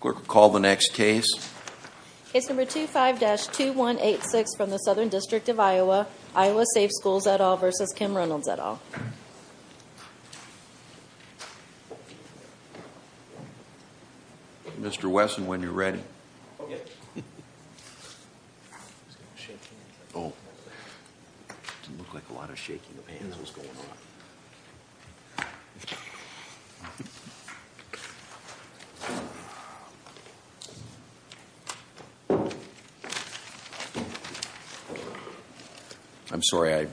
Call the next case. Case number 25-2186 from the Southern District of Iowa. Iowa Safe Schools et al. v. Kim Reynolds et al. Mr. Wesson, when you're ready. Okay. It didn't look like a lot of shaking of hands was going on. I'm sorry, I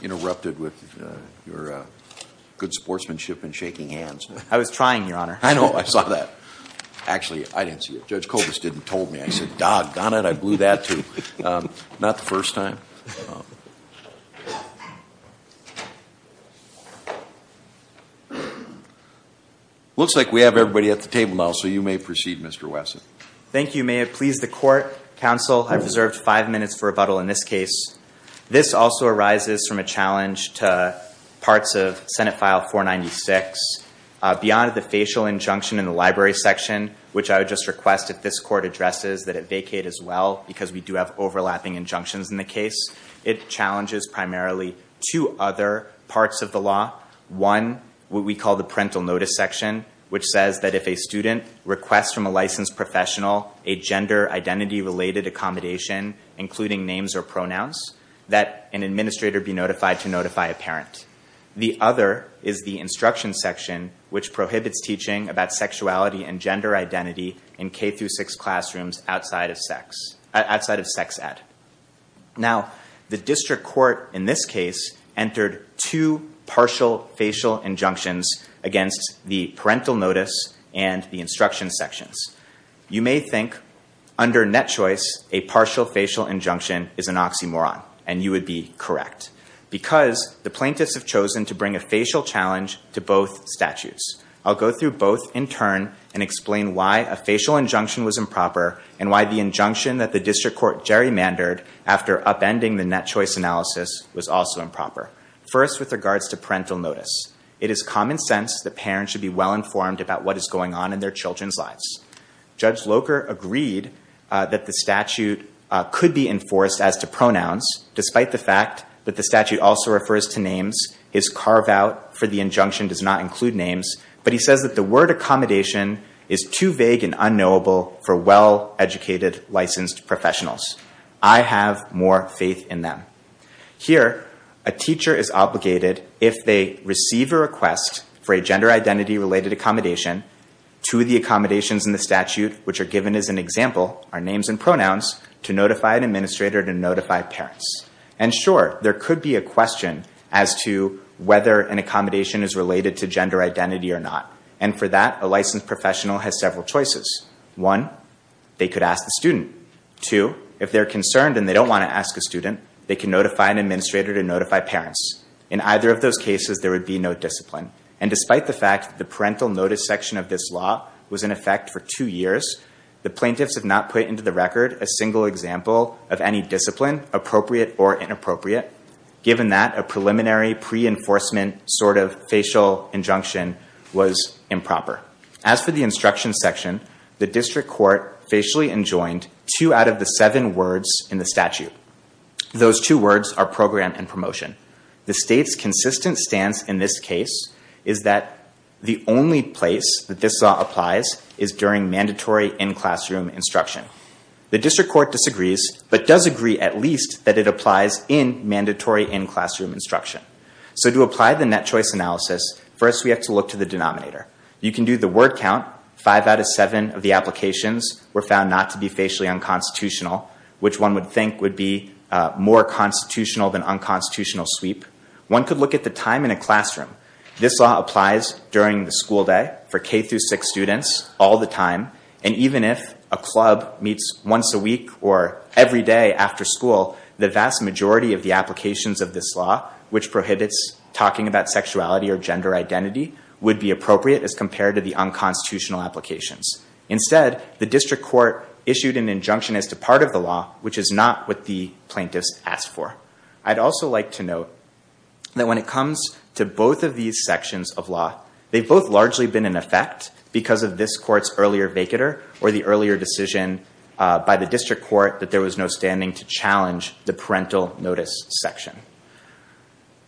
interrupted with your good sportsmanship and shaking hands. I was trying, Your Honor. I know, I saw that. Actually, I didn't see it. Judge Kobus didn't tell me. I said, doggone it, I blew that too. Not the first time. Looks like we have everybody at the table now, so you may proceed, Mr. Wesson. Thank you, Mayor. Please, the court, counsel, I've reserved five minutes for rebuttal in this case. This also arises from a challenge to parts of Senate File 496 beyond the facial injunction in the library section, which I would just request if this court addresses that it vacate as well, because we do have overlapping injunctions in the case. It challenges primarily two other parts of the law. One, what we call the parental notice section, which says that if a student requests from a licensed professional a gender identity-related accommodation, including names or pronouns, that an administrator be notified to notify a parent. The other is the instruction section, which prohibits teaching about sexuality and gender identity in K-6 classrooms outside of sex ed. Now, the district court in this case entered two partial facial injunctions against the parental notice and the instruction sections. You may think, under net choice, a partial facial injunction is an oxymoron, and you would be correct. Because the plaintiffs have chosen to bring a facial challenge to both statutes. I'll go through both in turn and explain why a facial injunction was improper and why the injunction that the district court gerrymandered after upending the net choice analysis was also improper. First, with regards to parental notice, it is common sense that parents should be well informed about what is going on in their children's lives. Judge Locher agreed that the statute could be enforced as to pronouns, despite the fact that the statute also refers to names. His carve-out for the injunction does not include names, but he says that the word accommodation is too vague and unknowable for well-educated, licensed professionals. I have more faith in them. Here, a teacher is obligated, if they receive a request for a gender identity-related accommodation, to the accommodations in the statute, which are given as an example, are names and pronouns, to notify an administrator to notify parents. And sure, there could be a question as to whether an accommodation is related to gender identity or not. And for that, a licensed professional has several choices. One, they could ask the student. Two, if they're concerned and they don't want to ask a student, they can notify an administrator to notify parents. In either of those cases, there would be no discipline. And despite the fact that the parental notice section of this law was in effect for two years, the plaintiffs have not put into the record a single example of any discipline, appropriate or inappropriate, given that a preliminary pre-enforcement sort of facial injunction was improper. As for the instruction section, the district court facially enjoined two out of the seven words in the statute. Those two words are program and promotion. The state's consistent stance in this case is that the only place that this law applies is during mandatory in-classroom instruction. The district court disagrees, but does agree at least that it applies in mandatory in-classroom instruction. So to apply the net choice analysis, first we have to look to the denominator. You can do the word count. Five out of seven of the applications were found not to be facially unconstitutional, which one would think would be more constitutional than unconstitutional sweep. One could look at the time in a classroom. This law applies during the school day for K-6 students all the time. And even if a club meets once a week or every day after school, the vast majority of the applications of this law, which prohibits talking about sexuality or gender identity, would be appropriate as compared to the unconstitutional applications. Instead, the district court issued an injunction as to part of the law, which is not what the plaintiffs asked for. I'd also like to note that when it comes to both of these sections of law, they've both largely been in effect because of this court's earlier vacater or the earlier decision by the district court that there was no standing to challenge the parental notice section.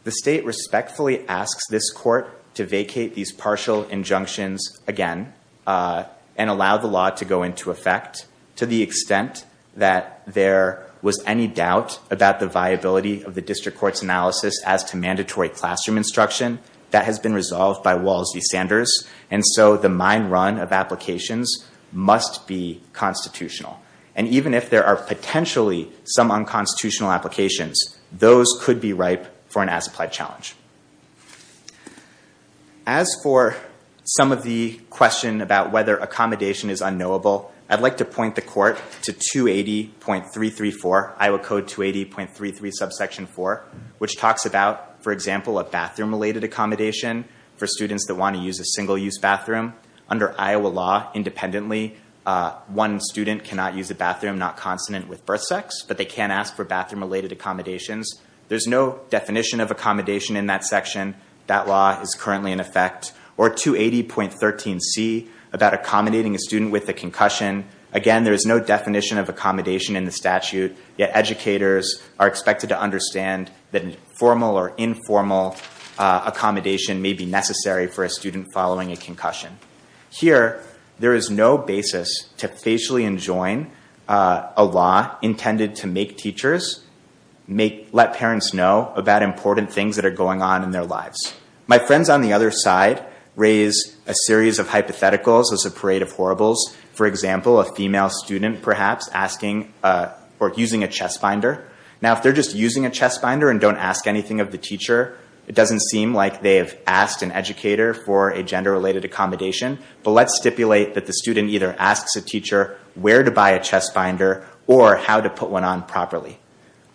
The state respectfully asks this court to vacate these partial injunctions again and allow the law to go into effect to the extent that there was any doubt about the viability of the district court's analysis as to mandatory classroom instruction. That has been resolved by Walls v. Sanders. And so the mine run of applications must be constitutional. And even if there are potentially some unconstitutional applications, those could be ripe for an as-applied challenge. As for some of the question about whether accommodation is unknowable, I'd like to point the court to 280.334, Iowa Code 280.33 subsection 4, which talks about, for example, a bathroom-related accommodation for students that want to use a single-use bathroom. Under Iowa law, independently, one student cannot use a bathroom not consonant with birth sex, but they can ask for bathroom-related accommodations. There's no definition of accommodation in that section. That law is currently in effect. Or 280.13c, about accommodating a student with a concussion. Again, there is no definition of accommodation in the statute, yet educators are expected to understand that formal or informal accommodation may be necessary for a student following a concussion. Here, there is no basis to facially enjoin a law intended to make teachers let parents know about important things that are going on in their lives. My friends on the other side raise a series of hypotheticals as a parade of horribles. For example, a female student perhaps asking or using a chest binder. Now, if they're just using a chest binder and don't ask anything of the teacher, it doesn't seem like they have asked an educator for a gender-related accommodation. But let's stipulate that the student either asks a teacher where to buy a chest binder or how to put one on properly.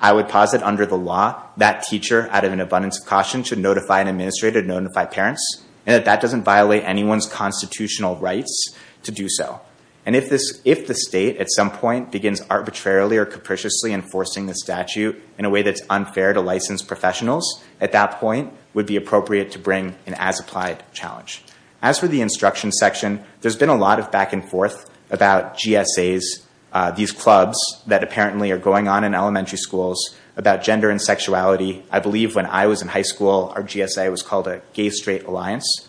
I would posit under the law that teacher, out of an abundance of caution, should notify an administrator to notify parents, and that that doesn't violate anyone's constitutional rights to do so. And if the state, at some point, begins arbitrarily or capriciously enforcing the statute in a way that's unfair to licensed professionals, at that point, it would be appropriate to bring an as-applied challenge. As for the instruction section, there's been a lot of back and forth about GSAs, these clubs that apparently are going on in elementary schools, about gender and sexuality. I believe when I was in high school, our GSA was called a Gay-Straight Alliance.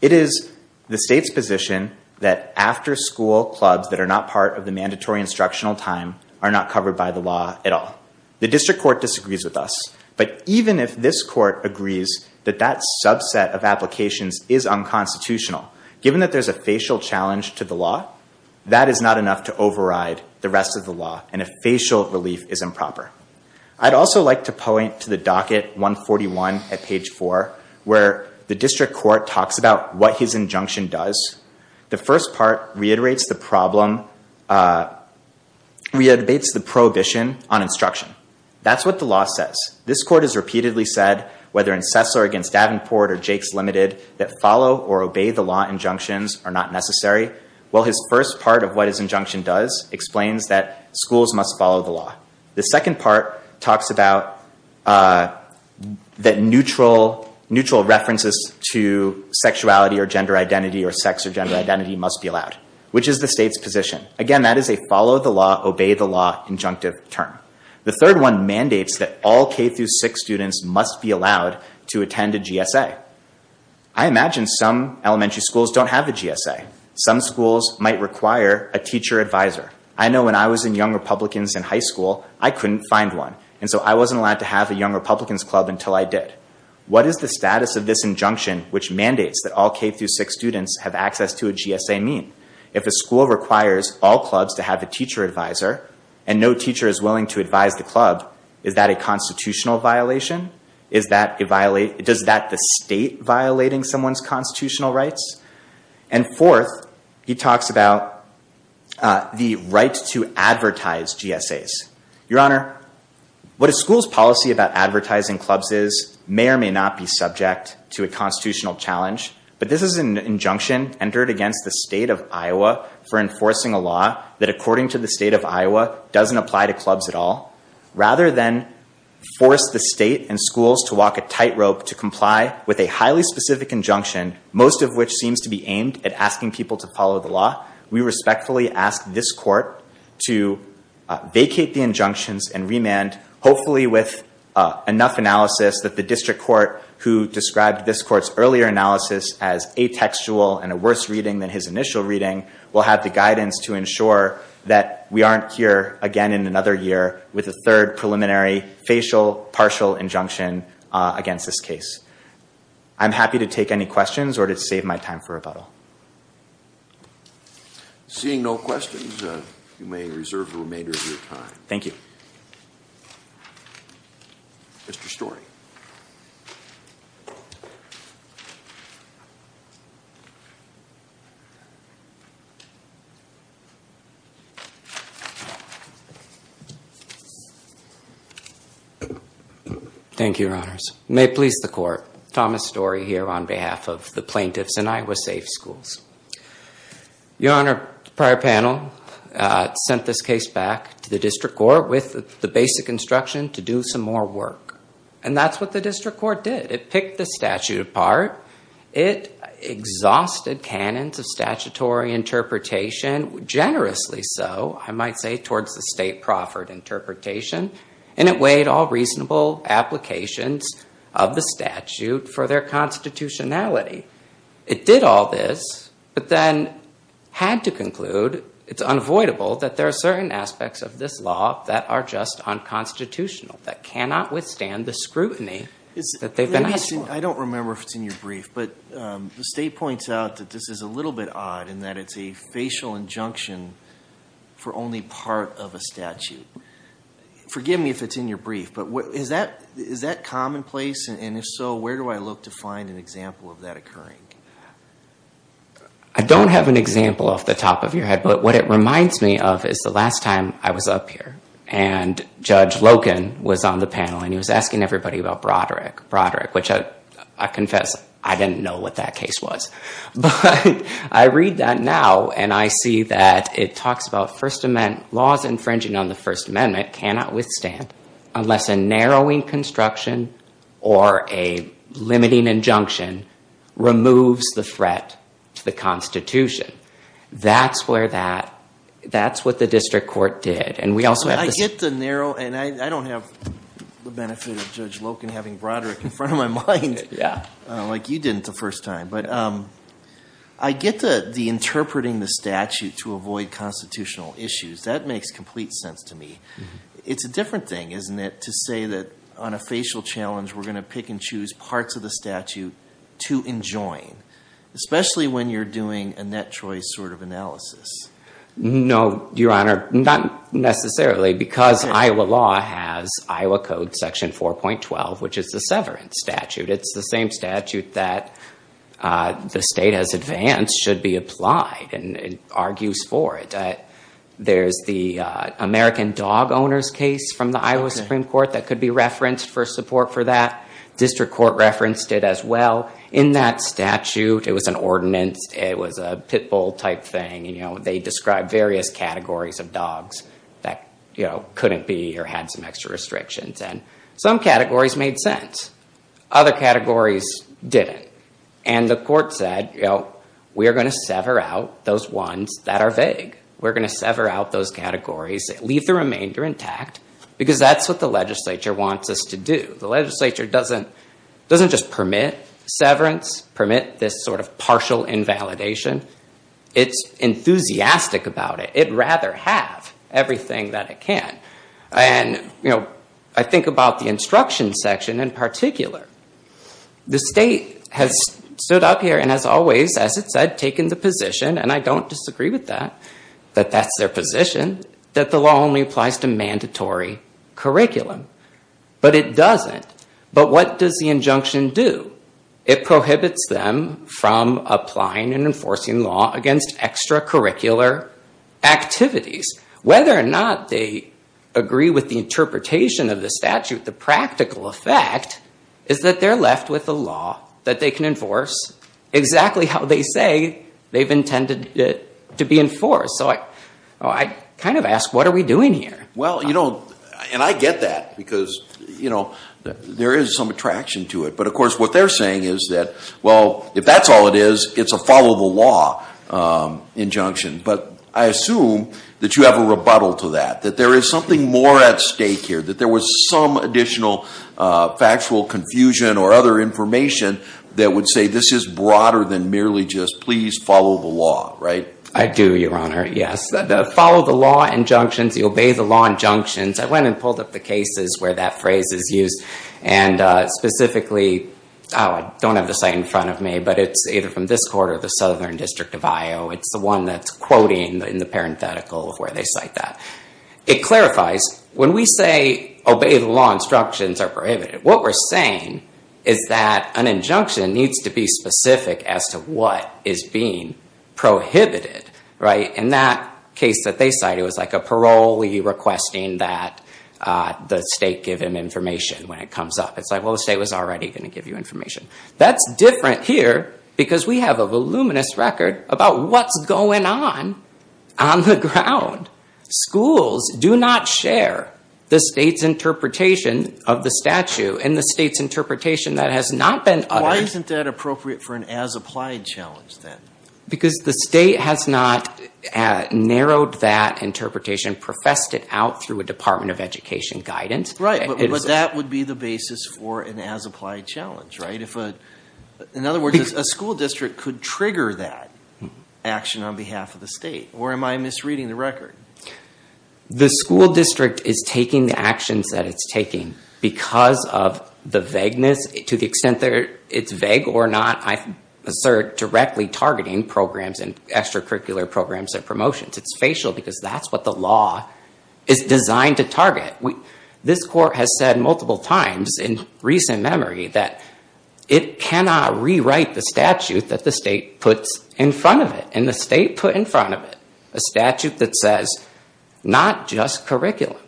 It is the state's position that after-school clubs that are not part of the mandatory instructional time are not covered by the law at all. The district court disagrees with us, but even if this court agrees that that subset of applications is unconstitutional, given that there's a facial challenge to the law, that is not enough to override the rest of the law, and a facial relief is improper. I'd also like to point to the docket 141 at page 4, where the district court talks about what his injunction does. The first part reiterates the prohibition on instruction. That's what the law says. This court has repeatedly said, whether in Cessna or against Davenport or Jake's Limited, that follow or obey the law injunctions are not necessary. Well, his first part of what his injunction does explains that schools must follow the law. The second part talks about that neutral references to sexuality or gender identity or sex or gender identity must be allowed, which is the state's position. Again, that is a follow-the-law, obey-the-law injunctive term. The third one mandates that all K-6 students must be allowed to attend a GSA. I imagine some elementary schools don't have a GSA. Some schools might require a teacher advisor. I know when I was in Young Republicans in high school, I couldn't find one, and so I wasn't allowed to have a Young Republicans club until I did. What is the status of this injunction, which mandates that all K-6 students have access to a GSA, mean? If a school requires all clubs to have a teacher advisor and no teacher is willing to advise the club, is that a constitutional violation? Does that violate the state violating someone's constitutional rights? And fourth, he talks about the right to advertise GSAs. Your Honor, what a school's policy about advertising clubs is may or may not be subject to a constitutional challenge, but this is an injunction entered against the state of Iowa for enforcing a law that, according to the state of Iowa, doesn't apply to clubs at all. Rather than force the state and schools to walk a tightrope to comply with a highly specific injunction, most of which seems to be aimed at asking people to follow the law, we respectfully ask this court to vacate the injunctions and remand, hopefully with enough analysis, that the district court, who described this court's earlier analysis as atextual and a worse reading than his initial reading, will have the guidance to ensure that we aren't here again in another year with a third preliminary facial partial injunction against this case. I'm happy to take any questions or to save my time for rebuttal. Seeing no questions, you may reserve the remainder of your time. Thank you. Mr. Storey. Thank you, Your Honors. May it please the court, Thomas Storey here on behalf of the plaintiffs and Iowa Safe Schools. Your Honor, the prior panel sent this case back to the district court with the basic instruction to do some more work. And that's what the district court did. It picked the statute apart. It exhausted canons of statutory interpretation, generously so, I might say, towards the state proffered interpretation. And it weighed all reasonable applications of the statute for their constitutionality. It did all this, but then had to conclude, it's unavoidable that there are certain aspects of this law that are just unconstitutional, that cannot withstand the scrutiny that they've been asked for. I don't remember if it's in your brief, but the state points out that this is a little bit odd in that it's a facial injunction for only part of a statute. Forgive me if it's in your brief, but is that commonplace? And if so, where do I look to find an example of that occurring? I don't have an example off the top of your head, but what it reminds me of is the last time I was up here. And Judge Loken was on the panel, and he was asking everybody about Broderick. Broderick, which I confess, I didn't know what that case was. But I read that now, and I see that it talks about laws infringing on the First Amendment cannot withstand unless a narrowing construction or a limiting injunction removes the threat to the Constitution. That's what the district court did. I get the narrow, and I don't have the benefit of Judge Loken having Broderick in front of my mind like you didn't the first time. But I get the interpreting the statute to avoid constitutional issues. That makes complete sense to me. It's a different thing, isn't it, to say that on a facial challenge we're going to pick and choose parts of the statute to enjoin, especially when you're doing a net choice sort of analysis? No, Your Honor, not necessarily, because Iowa law has Iowa Code Section 4.12, which is the severance statute. It's the same statute that the state has advanced should be applied, and it argues for it. There's the American dog owners case from the Iowa Supreme Court that could be referenced for support for that. District court referenced it as well. In that statute, it was an ordinance. It was a pit bull type thing. They described various categories of dogs that couldn't be or had some extra restrictions, and some categories made sense. Other categories didn't, and the court said, we are going to sever out those ones that are vague. We're going to sever out those categories, leave the remainder intact, because that's what the legislature wants us to do. The legislature doesn't just permit severance, permit this sort of partial invalidation. It's enthusiastic about it. It'd rather have everything that it can. I think about the instruction section in particular. The state has stood up here and has always, as it said, taken the position, and I don't disagree with that, that that's their position, that the law only applies to mandatory curriculum. But it doesn't. But what does the injunction do? It prohibits them from applying and enforcing law against extracurricular activities. Whether or not they agree with the interpretation of the statute, the practical effect is that they're left with a law that they can enforce exactly how they say they've intended it to be enforced. I kind of ask, what are we doing here? Well, you know, and I get that because, you know, there is some attraction to it. But, of course, what they're saying is that, well, if that's all it is, it's a follow-the-law injunction. But I assume that you have a rebuttal to that, that there is something more at stake here, that there was some additional factual confusion or other information that would say this is broader than merely just please follow the law, right? I do, Your Honor, yes. The follow-the-law injunctions, the obey-the-law injunctions, I went and pulled up the cases where that phrase is used. And specifically, oh, I don't have the site in front of me, but it's either from this court or the Southern District of Iowa. It's the one that's quoting in the parenthetical of where they cite that. It clarifies, when we say obey-the-law instructions are prohibited, what we're saying is that an injunction needs to be specific as to what is being prohibited, right? In that case that they cite, it was like a parolee requesting that the state give him information when it comes up. It's like, well, the state was already going to give you information. That's different here because we have a voluminous record about what's going on on the ground. Schools do not share the state's interpretation of the statute and the state's interpretation that has not been uttered. Why isn't that appropriate for an as-applied challenge then? Because the state has not narrowed that interpretation, professed it out through a Department of Education guidance. Right, but that would be the basis for an as-applied challenge, right? In other words, a school district could trigger that action on behalf of the state. Or am I misreading the record? The school district is taking the actions that it's taking because of the vagueness. To the extent that it's vague or not, I assert directly targeting programs and extracurricular programs and promotions. It's facial because that's what the law is designed to target. This court has said multiple times in recent memory that it cannot rewrite the statute that the state puts in front of it. And the state put in front of it a statute that says not just curriculum.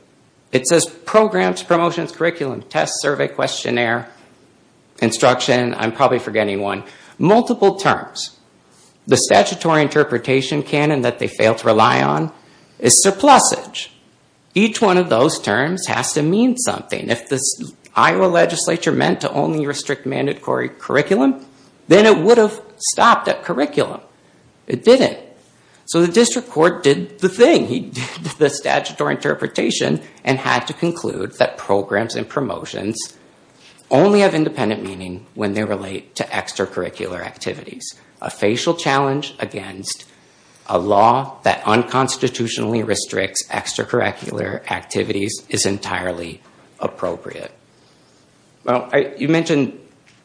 It says programs, promotions, curriculum, test, survey, questionnaire, instruction. I'm probably forgetting one. Multiple terms. The statutory interpretation canon that they fail to rely on is surplusage. Each one of those terms has to mean something. If the Iowa legislature meant to only restrict mandatory curriculum, then it would have stopped at curriculum. It didn't. So the district court did the thing. He did the statutory interpretation and had to conclude that programs and promotions only have independent meaning when they relate to extracurricular activities. A facial challenge against a law that unconstitutionally restricts extracurricular activities is entirely appropriate. You mentioned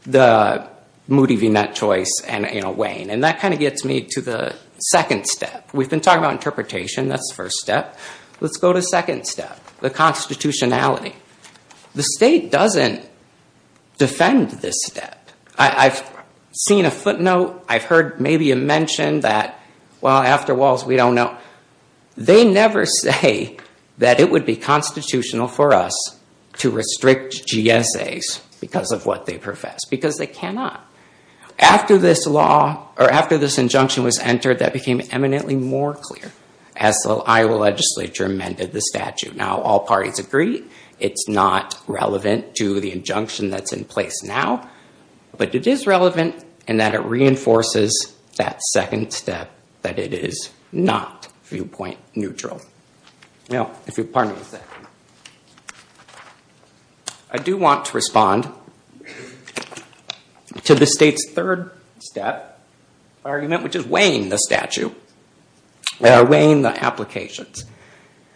the Moody v. Nutt choice and Wayne. And that kind of gets me to the second step. We've been talking about interpretation. That's the first step. Let's go to the second step, the constitutionality. The state doesn't defend this step. I've seen a footnote. I've heard maybe a mention that, well, after Walls, we don't know. They never say that it would be constitutional for us to restrict GSAs because of what they profess, because they cannot. After this injunction was entered, that became eminently more clear as the Iowa legislature amended the statute. Now, all parties agree it's not relevant to the injunction that's in place now. But it is relevant in that it reinforces that second step, that it is not viewpoint neutral. I do want to respond to the state's third step argument, which is weighing the statute, weighing the applications.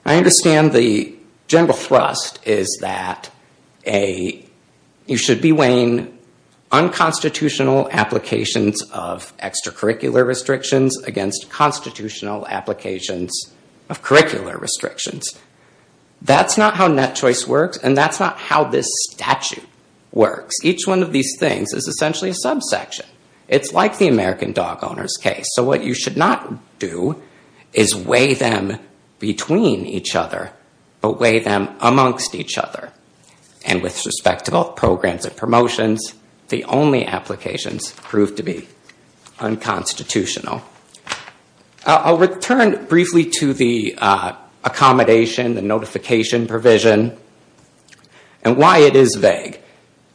I understand the general thrust is that you should be weighing unconstitutional applications of extracurricular restrictions against constitutional applications of curricular restrictions. That's not how Nett choice works, and that's not how this statute works. Each one of these things is essentially a subsection. It's like the American dog owner's case. So what you should not do is weigh them between each other, but weigh them amongst each other. And with respect to both programs and promotions, the only applications proved to be unconstitutional. I'll return briefly to the accommodation, the notification provision, and why it is vague.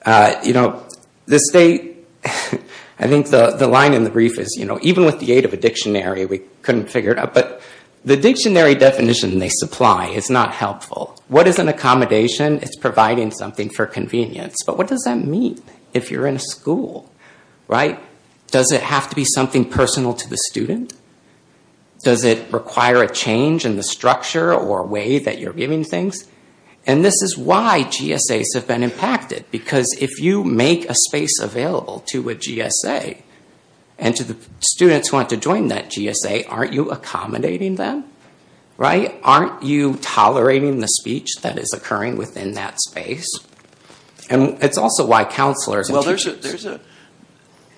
The state, I think the line in the brief is, even with the aid of a dictionary, we couldn't figure it out. But the dictionary definition they supply is not helpful. What is an accommodation? It's providing something for convenience. But what does that mean if you're in a school? Does it have to be something personal to the student? Does it require a change in the structure or way that you're giving things? And this is why GSAs have been impacted. Because if you make a space available to a GSA and to the students who want to join that GSA, aren't you accommodating them? Aren't you tolerating the speech that is occurring within that space? And it's also why counselors and teachers. Well,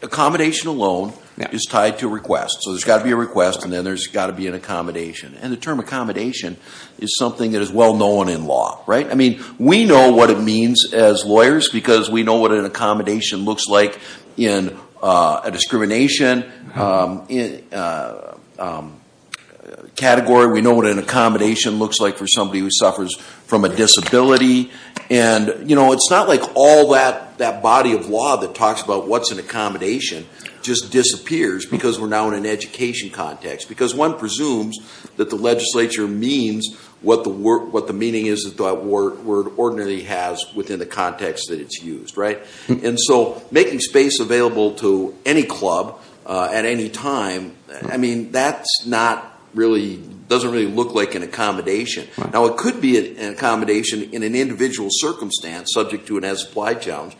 accommodation alone is tied to requests. So there's got to be a request, and then there's got to be an accommodation. And the term accommodation is something that is well known in law. Right? I mean, we know what it means as lawyers because we know what an accommodation looks like in a discrimination category. We know what an accommodation looks like for somebody who suffers from a disability. And, you know, it's not like all that body of law that talks about what's an accommodation just disappears because we're now in an education context. Because one presumes that the legislature means what the meaning is that that word ordinarily has within the context that it's used. Right? And so making space available to any club at any time, I mean, that doesn't really look like an accommodation. Now, it could be an accommodation in an individual circumstance subject to an as-applied challenge.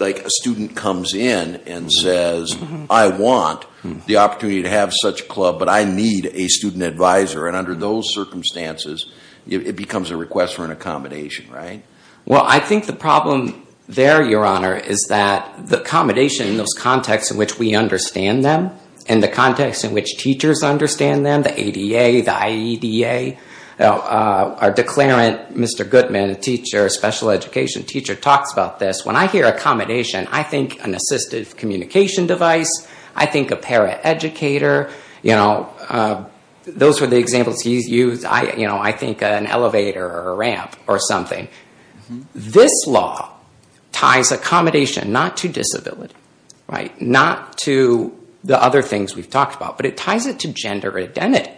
Like a student comes in and says, I want the opportunity to have such a club, but I need a student advisor. And under those circumstances, it becomes a request for an accommodation. Right? Well, I think the problem there, Your Honor, is that the accommodation in those contexts in which we understand them and the context in which teachers understand them, the ADA, the IEDA, our declarant, Mr. Goodman, a teacher, a special education teacher, talks about this. When I hear accommodation, I think an assistive communication device. I think a paraeducator. You know, those are the examples he's used. You know, I think an elevator or a ramp or something. This law ties accommodation not to disability. Right? Not to the other things we've talked about. But it ties it to gender identity.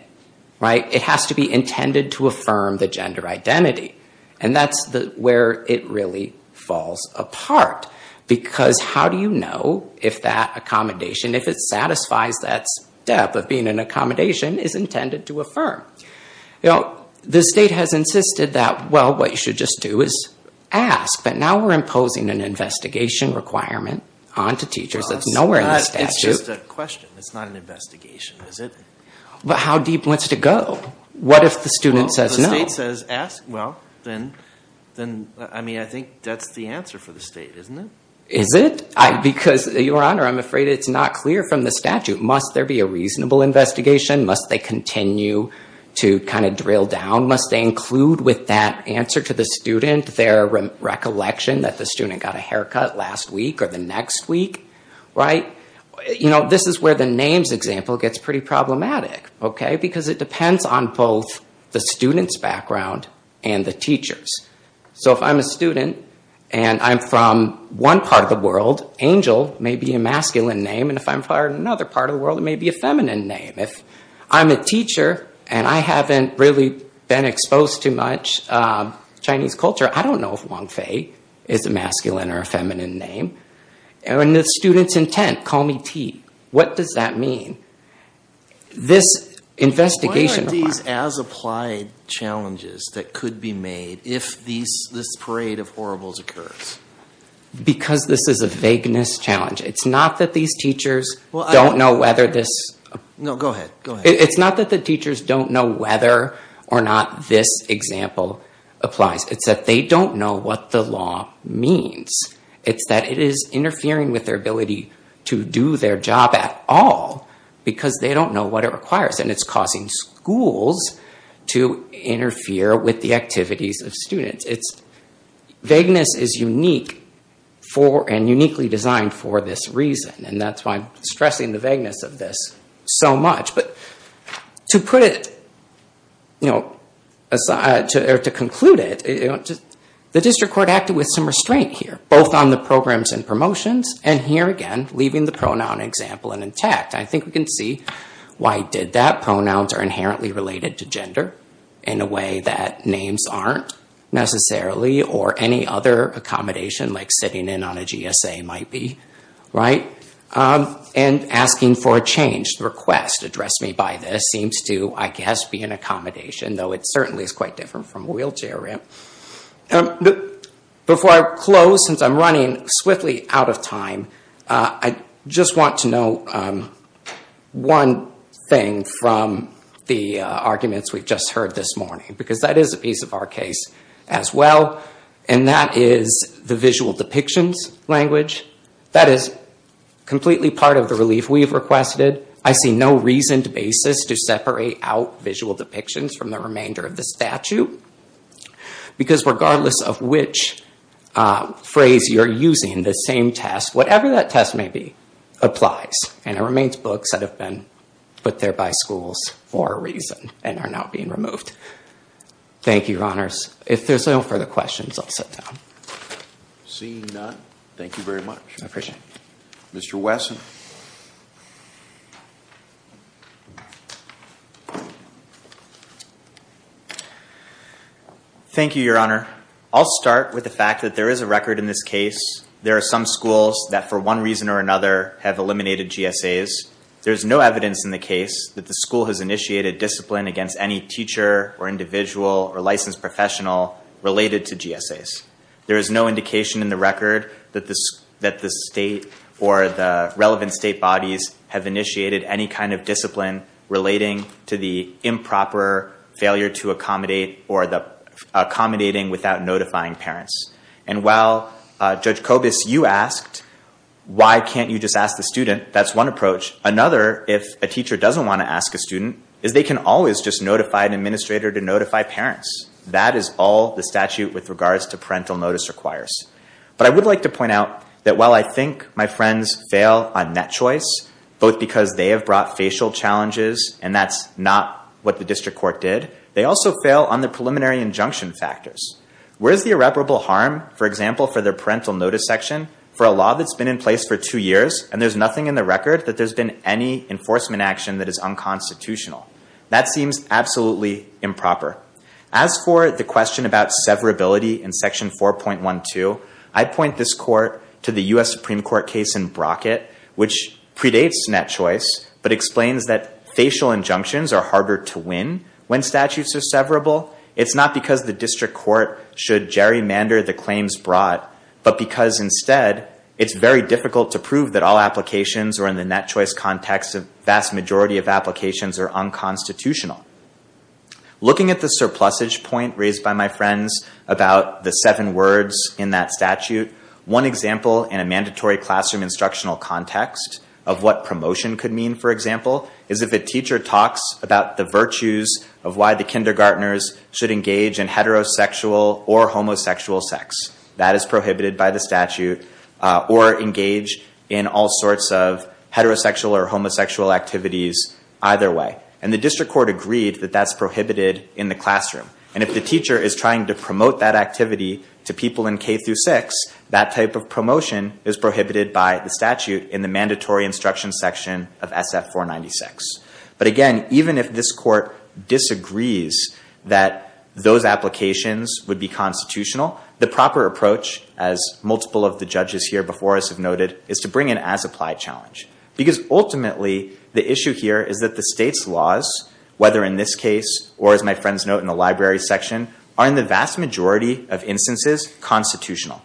Right? It has to be intended to affirm the gender identity. And that's where it really falls apart. Because how do you know if that accommodation, if it satisfies that step of being an accommodation, is intended to affirm? You know, the state has insisted that, well, what you should just do is ask. But now we're imposing an investigation requirement onto teachers. That's nowhere in the statute. It's just a question. It's not an investigation, is it? But how deep wants to go? What if the student says no? Well, then, I mean, I think that's the answer for the state, isn't it? Is it? Because, Your Honor, I'm afraid it's not clear from the statute. Must there be a reasonable investigation? Must they continue to kind of drill down? Must they include with that answer to the student their recollection that the student got a haircut last week or the next week? Right? You know, this is where the names example gets pretty problematic. Okay? Because it depends on both the student's background and the teacher's. So if I'm a student and I'm from one part of the world, Angel may be a masculine name. And if I'm from another part of the world, it may be a feminine name. If I'm a teacher and I haven't really been exposed to much Chinese culture, I don't know if Wong Fei is a masculine or a feminine name. And the student's intent, call me T, what does that mean? This investigation. Why aren't these as applied challenges that could be made if this parade of horribles occurs? Because this is a vagueness challenge. It's not that these teachers don't know whether this. No, go ahead. It's not that the teachers don't know whether or not this example applies. It's that they don't know what the law means. It's that it is interfering with their ability to do their job at all because they don't know what it requires. And it's causing schools to interfere with the activities of students. Vagueness is unique and uniquely designed for this reason. And that's why I'm stressing the vagueness of this so much. But to conclude it, the district court acted with some restraint here, both on the programs and promotions. And here again, leaving the pronoun example and intact. I think we can see why it did that. Pronouns are inherently related to gender in a way that names aren't necessarily or any other accommodation like sitting in on a GSA might be. And asking for a change. The request, address me by this, seems to, I guess, be an accommodation. Though it certainly is quite different from a wheelchair ramp. Before I close, since I'm running swiftly out of time, I just want to note one thing from the arguments we've just heard this morning. Because that is a piece of our case as well. And that is the visual depictions language. That is completely part of the relief we've requested. I see no reason to basis to separate out visual depictions from the remainder of the statute. Because regardless of which phrase you're using, the same test, whatever that test may be, applies. And it remains books that have been put there by schools for a reason and are now being removed. Thank you, your honors. If there's no further questions, I'll sit down. Seeing none, thank you very much. I appreciate it. Mr. Wesson. Thank you, your honor. I'll start with the fact that there is a record in this case. There are some schools that for one reason or another have eliminated GSAs. There is no evidence in the case that the school has initiated discipline against any teacher or individual or licensed professional related to GSAs. There is no indication in the record that the state or the relevant state bodies have initiated any kind of discipline relating to the improper failure to accommodate or the accommodating without notifying parents. And while, Judge Kobus, you asked, why can't you just ask the student? That's one approach. Another, if a teacher doesn't want to ask a student, is they can always just notify an administrator to notify parents. That is all the statute with regards to parental notice requires. But I would like to point out that while I think my friends fail on net choice, both because they have brought facial challenges and that's not what the district court did, they also fail on the preliminary injunction factors. Where is the irreparable harm, for example, for their parental notice section for a law that's been in place for two years and there's nothing in the record that there's been any enforcement action that is unconstitutional? That seems absolutely improper. As for the question about severability in Section 4.12, I point this court to the U.S. Supreme Court case in Brockett, which predates net choice but explains that facial injunctions are harder to win when statutes are severable. It's not because the district court should gerrymander the claims brought, but because instead, it's very difficult to prove that all applications or in the net choice context, a vast majority of applications are unconstitutional. Looking at the surplusage point raised by my friends about the seven words in that statute, one example in a mandatory classroom instructional context of what promotion could mean, for example, is if a teacher talks about the virtues of why the kindergartners should engage in heterosexual or homosexual sex. That is prohibited by the statute, or engage in all sorts of heterosexual or homosexual activities either way. And the district court agreed that that's prohibited in the classroom. And if the teacher is trying to promote that activity to people in K-6, that type of promotion is prohibited by the statute in the mandatory instruction section of SF-496. But again, even if this court disagrees that those applications would be constitutional, the proper approach, as multiple of the judges here before us have noted, is to bring an as-applied challenge. Because ultimately, the issue here is that the state's laws, whether in this case or as my friends note in the library section, are in the vast majority of instances constitutional.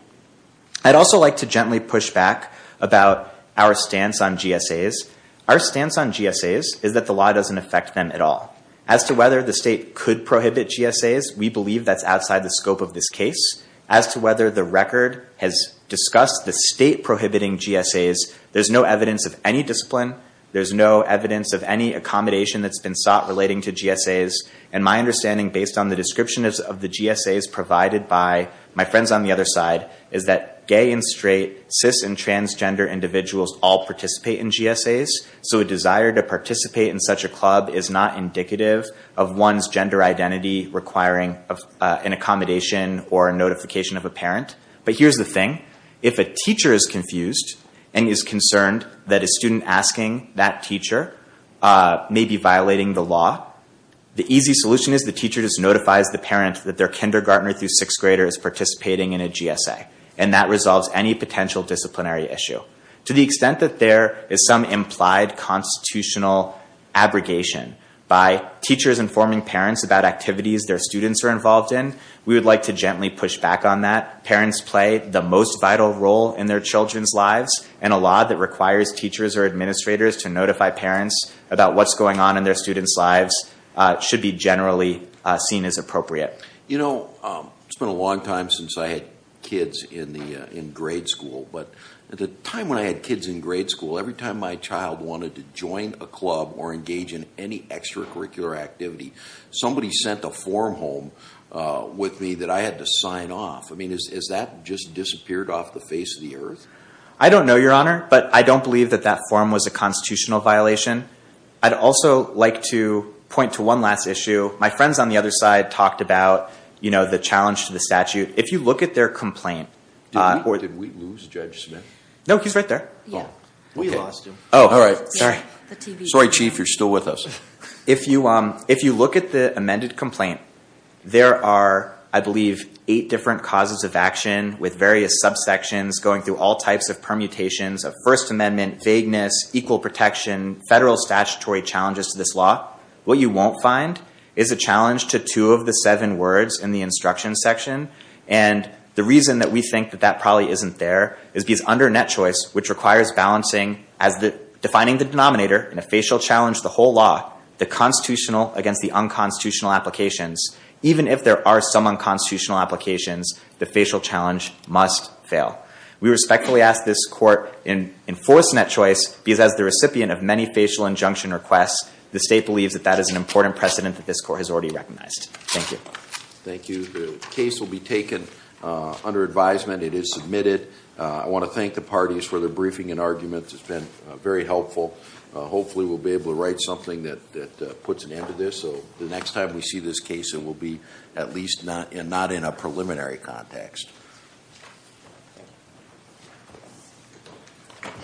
I'd also like to gently push back about our stance on GSAs. Our stance on GSAs is that the law doesn't affect them at all. As to whether the state could prohibit GSAs, we believe that's outside the scope of this case. As to whether the record has discussed the state prohibiting GSAs, there's no evidence of any discipline. There's no evidence of any accommodation that's been sought relating to GSAs. And my understanding, based on the description of the GSAs provided by my friends on the other side, is that gay and straight, cis and transgender individuals all participate in GSAs. So a desire to participate in such a club is not indicative of one's gender identity requiring an accommodation or a notification of a parent. But here's the thing. If a teacher is confused and is concerned that a student asking that teacher may be violating the law, the easy solution is the teacher just notifies the parent that their kindergartner through sixth grader is participating in a GSA. And that resolves any potential disciplinary issue. To the extent that there is some implied constitutional abrogation by teachers informing parents about activities their students are involved in, we would like to gently push back on that. Parents play the most vital role in their children's lives, and a law that requires teachers or administrators to notify parents about what's going on in their students' lives should be generally seen as appropriate. You know, it's been a long time since I had kids in grade school. But at the time when I had kids in grade school, every time my child wanted to join a club or engage in any extracurricular activity, somebody sent a form home with me that I had to sign off. I mean, has that just disappeared off the face of the earth? I don't know, Your Honor, but I don't believe that that form was a constitutional violation. I'd also like to point to one last issue. My friends on the other side talked about, you know, the challenge to the statute. If you look at their complaint. Did we lose Judge Smith? No, he's right there. We lost him. Oh, all right. Sorry, Chief. You're still with us. If you look at the amended complaint, there are, I believe, eight different causes of action with various subsections going through all types of permutations of First Amendment, vagueness, equal protection, federal statutory challenges to this law. What you won't find is a challenge to two of the seven words in the instruction section. And the reason that we think that that probably isn't there is because under net choice, which requires balancing as defining the denominator in a facial challenge the whole law, the constitutional against the unconstitutional applications, even if there are some unconstitutional applications, the facial challenge must fail. We respectfully ask this court in enforcing that choice because as the recipient of many facial injunction requests, the state believes that that is an important precedent that this court has already recognized. Thank you. Thank you. The case will be taken under advisement. It is submitted. I want to thank the parties for their briefing and arguments. It's been very helpful. Hopefully, we'll be able to write something that puts an end to this. So the next time we see this case, it will be at least not in a preliminary context. Thank you very much.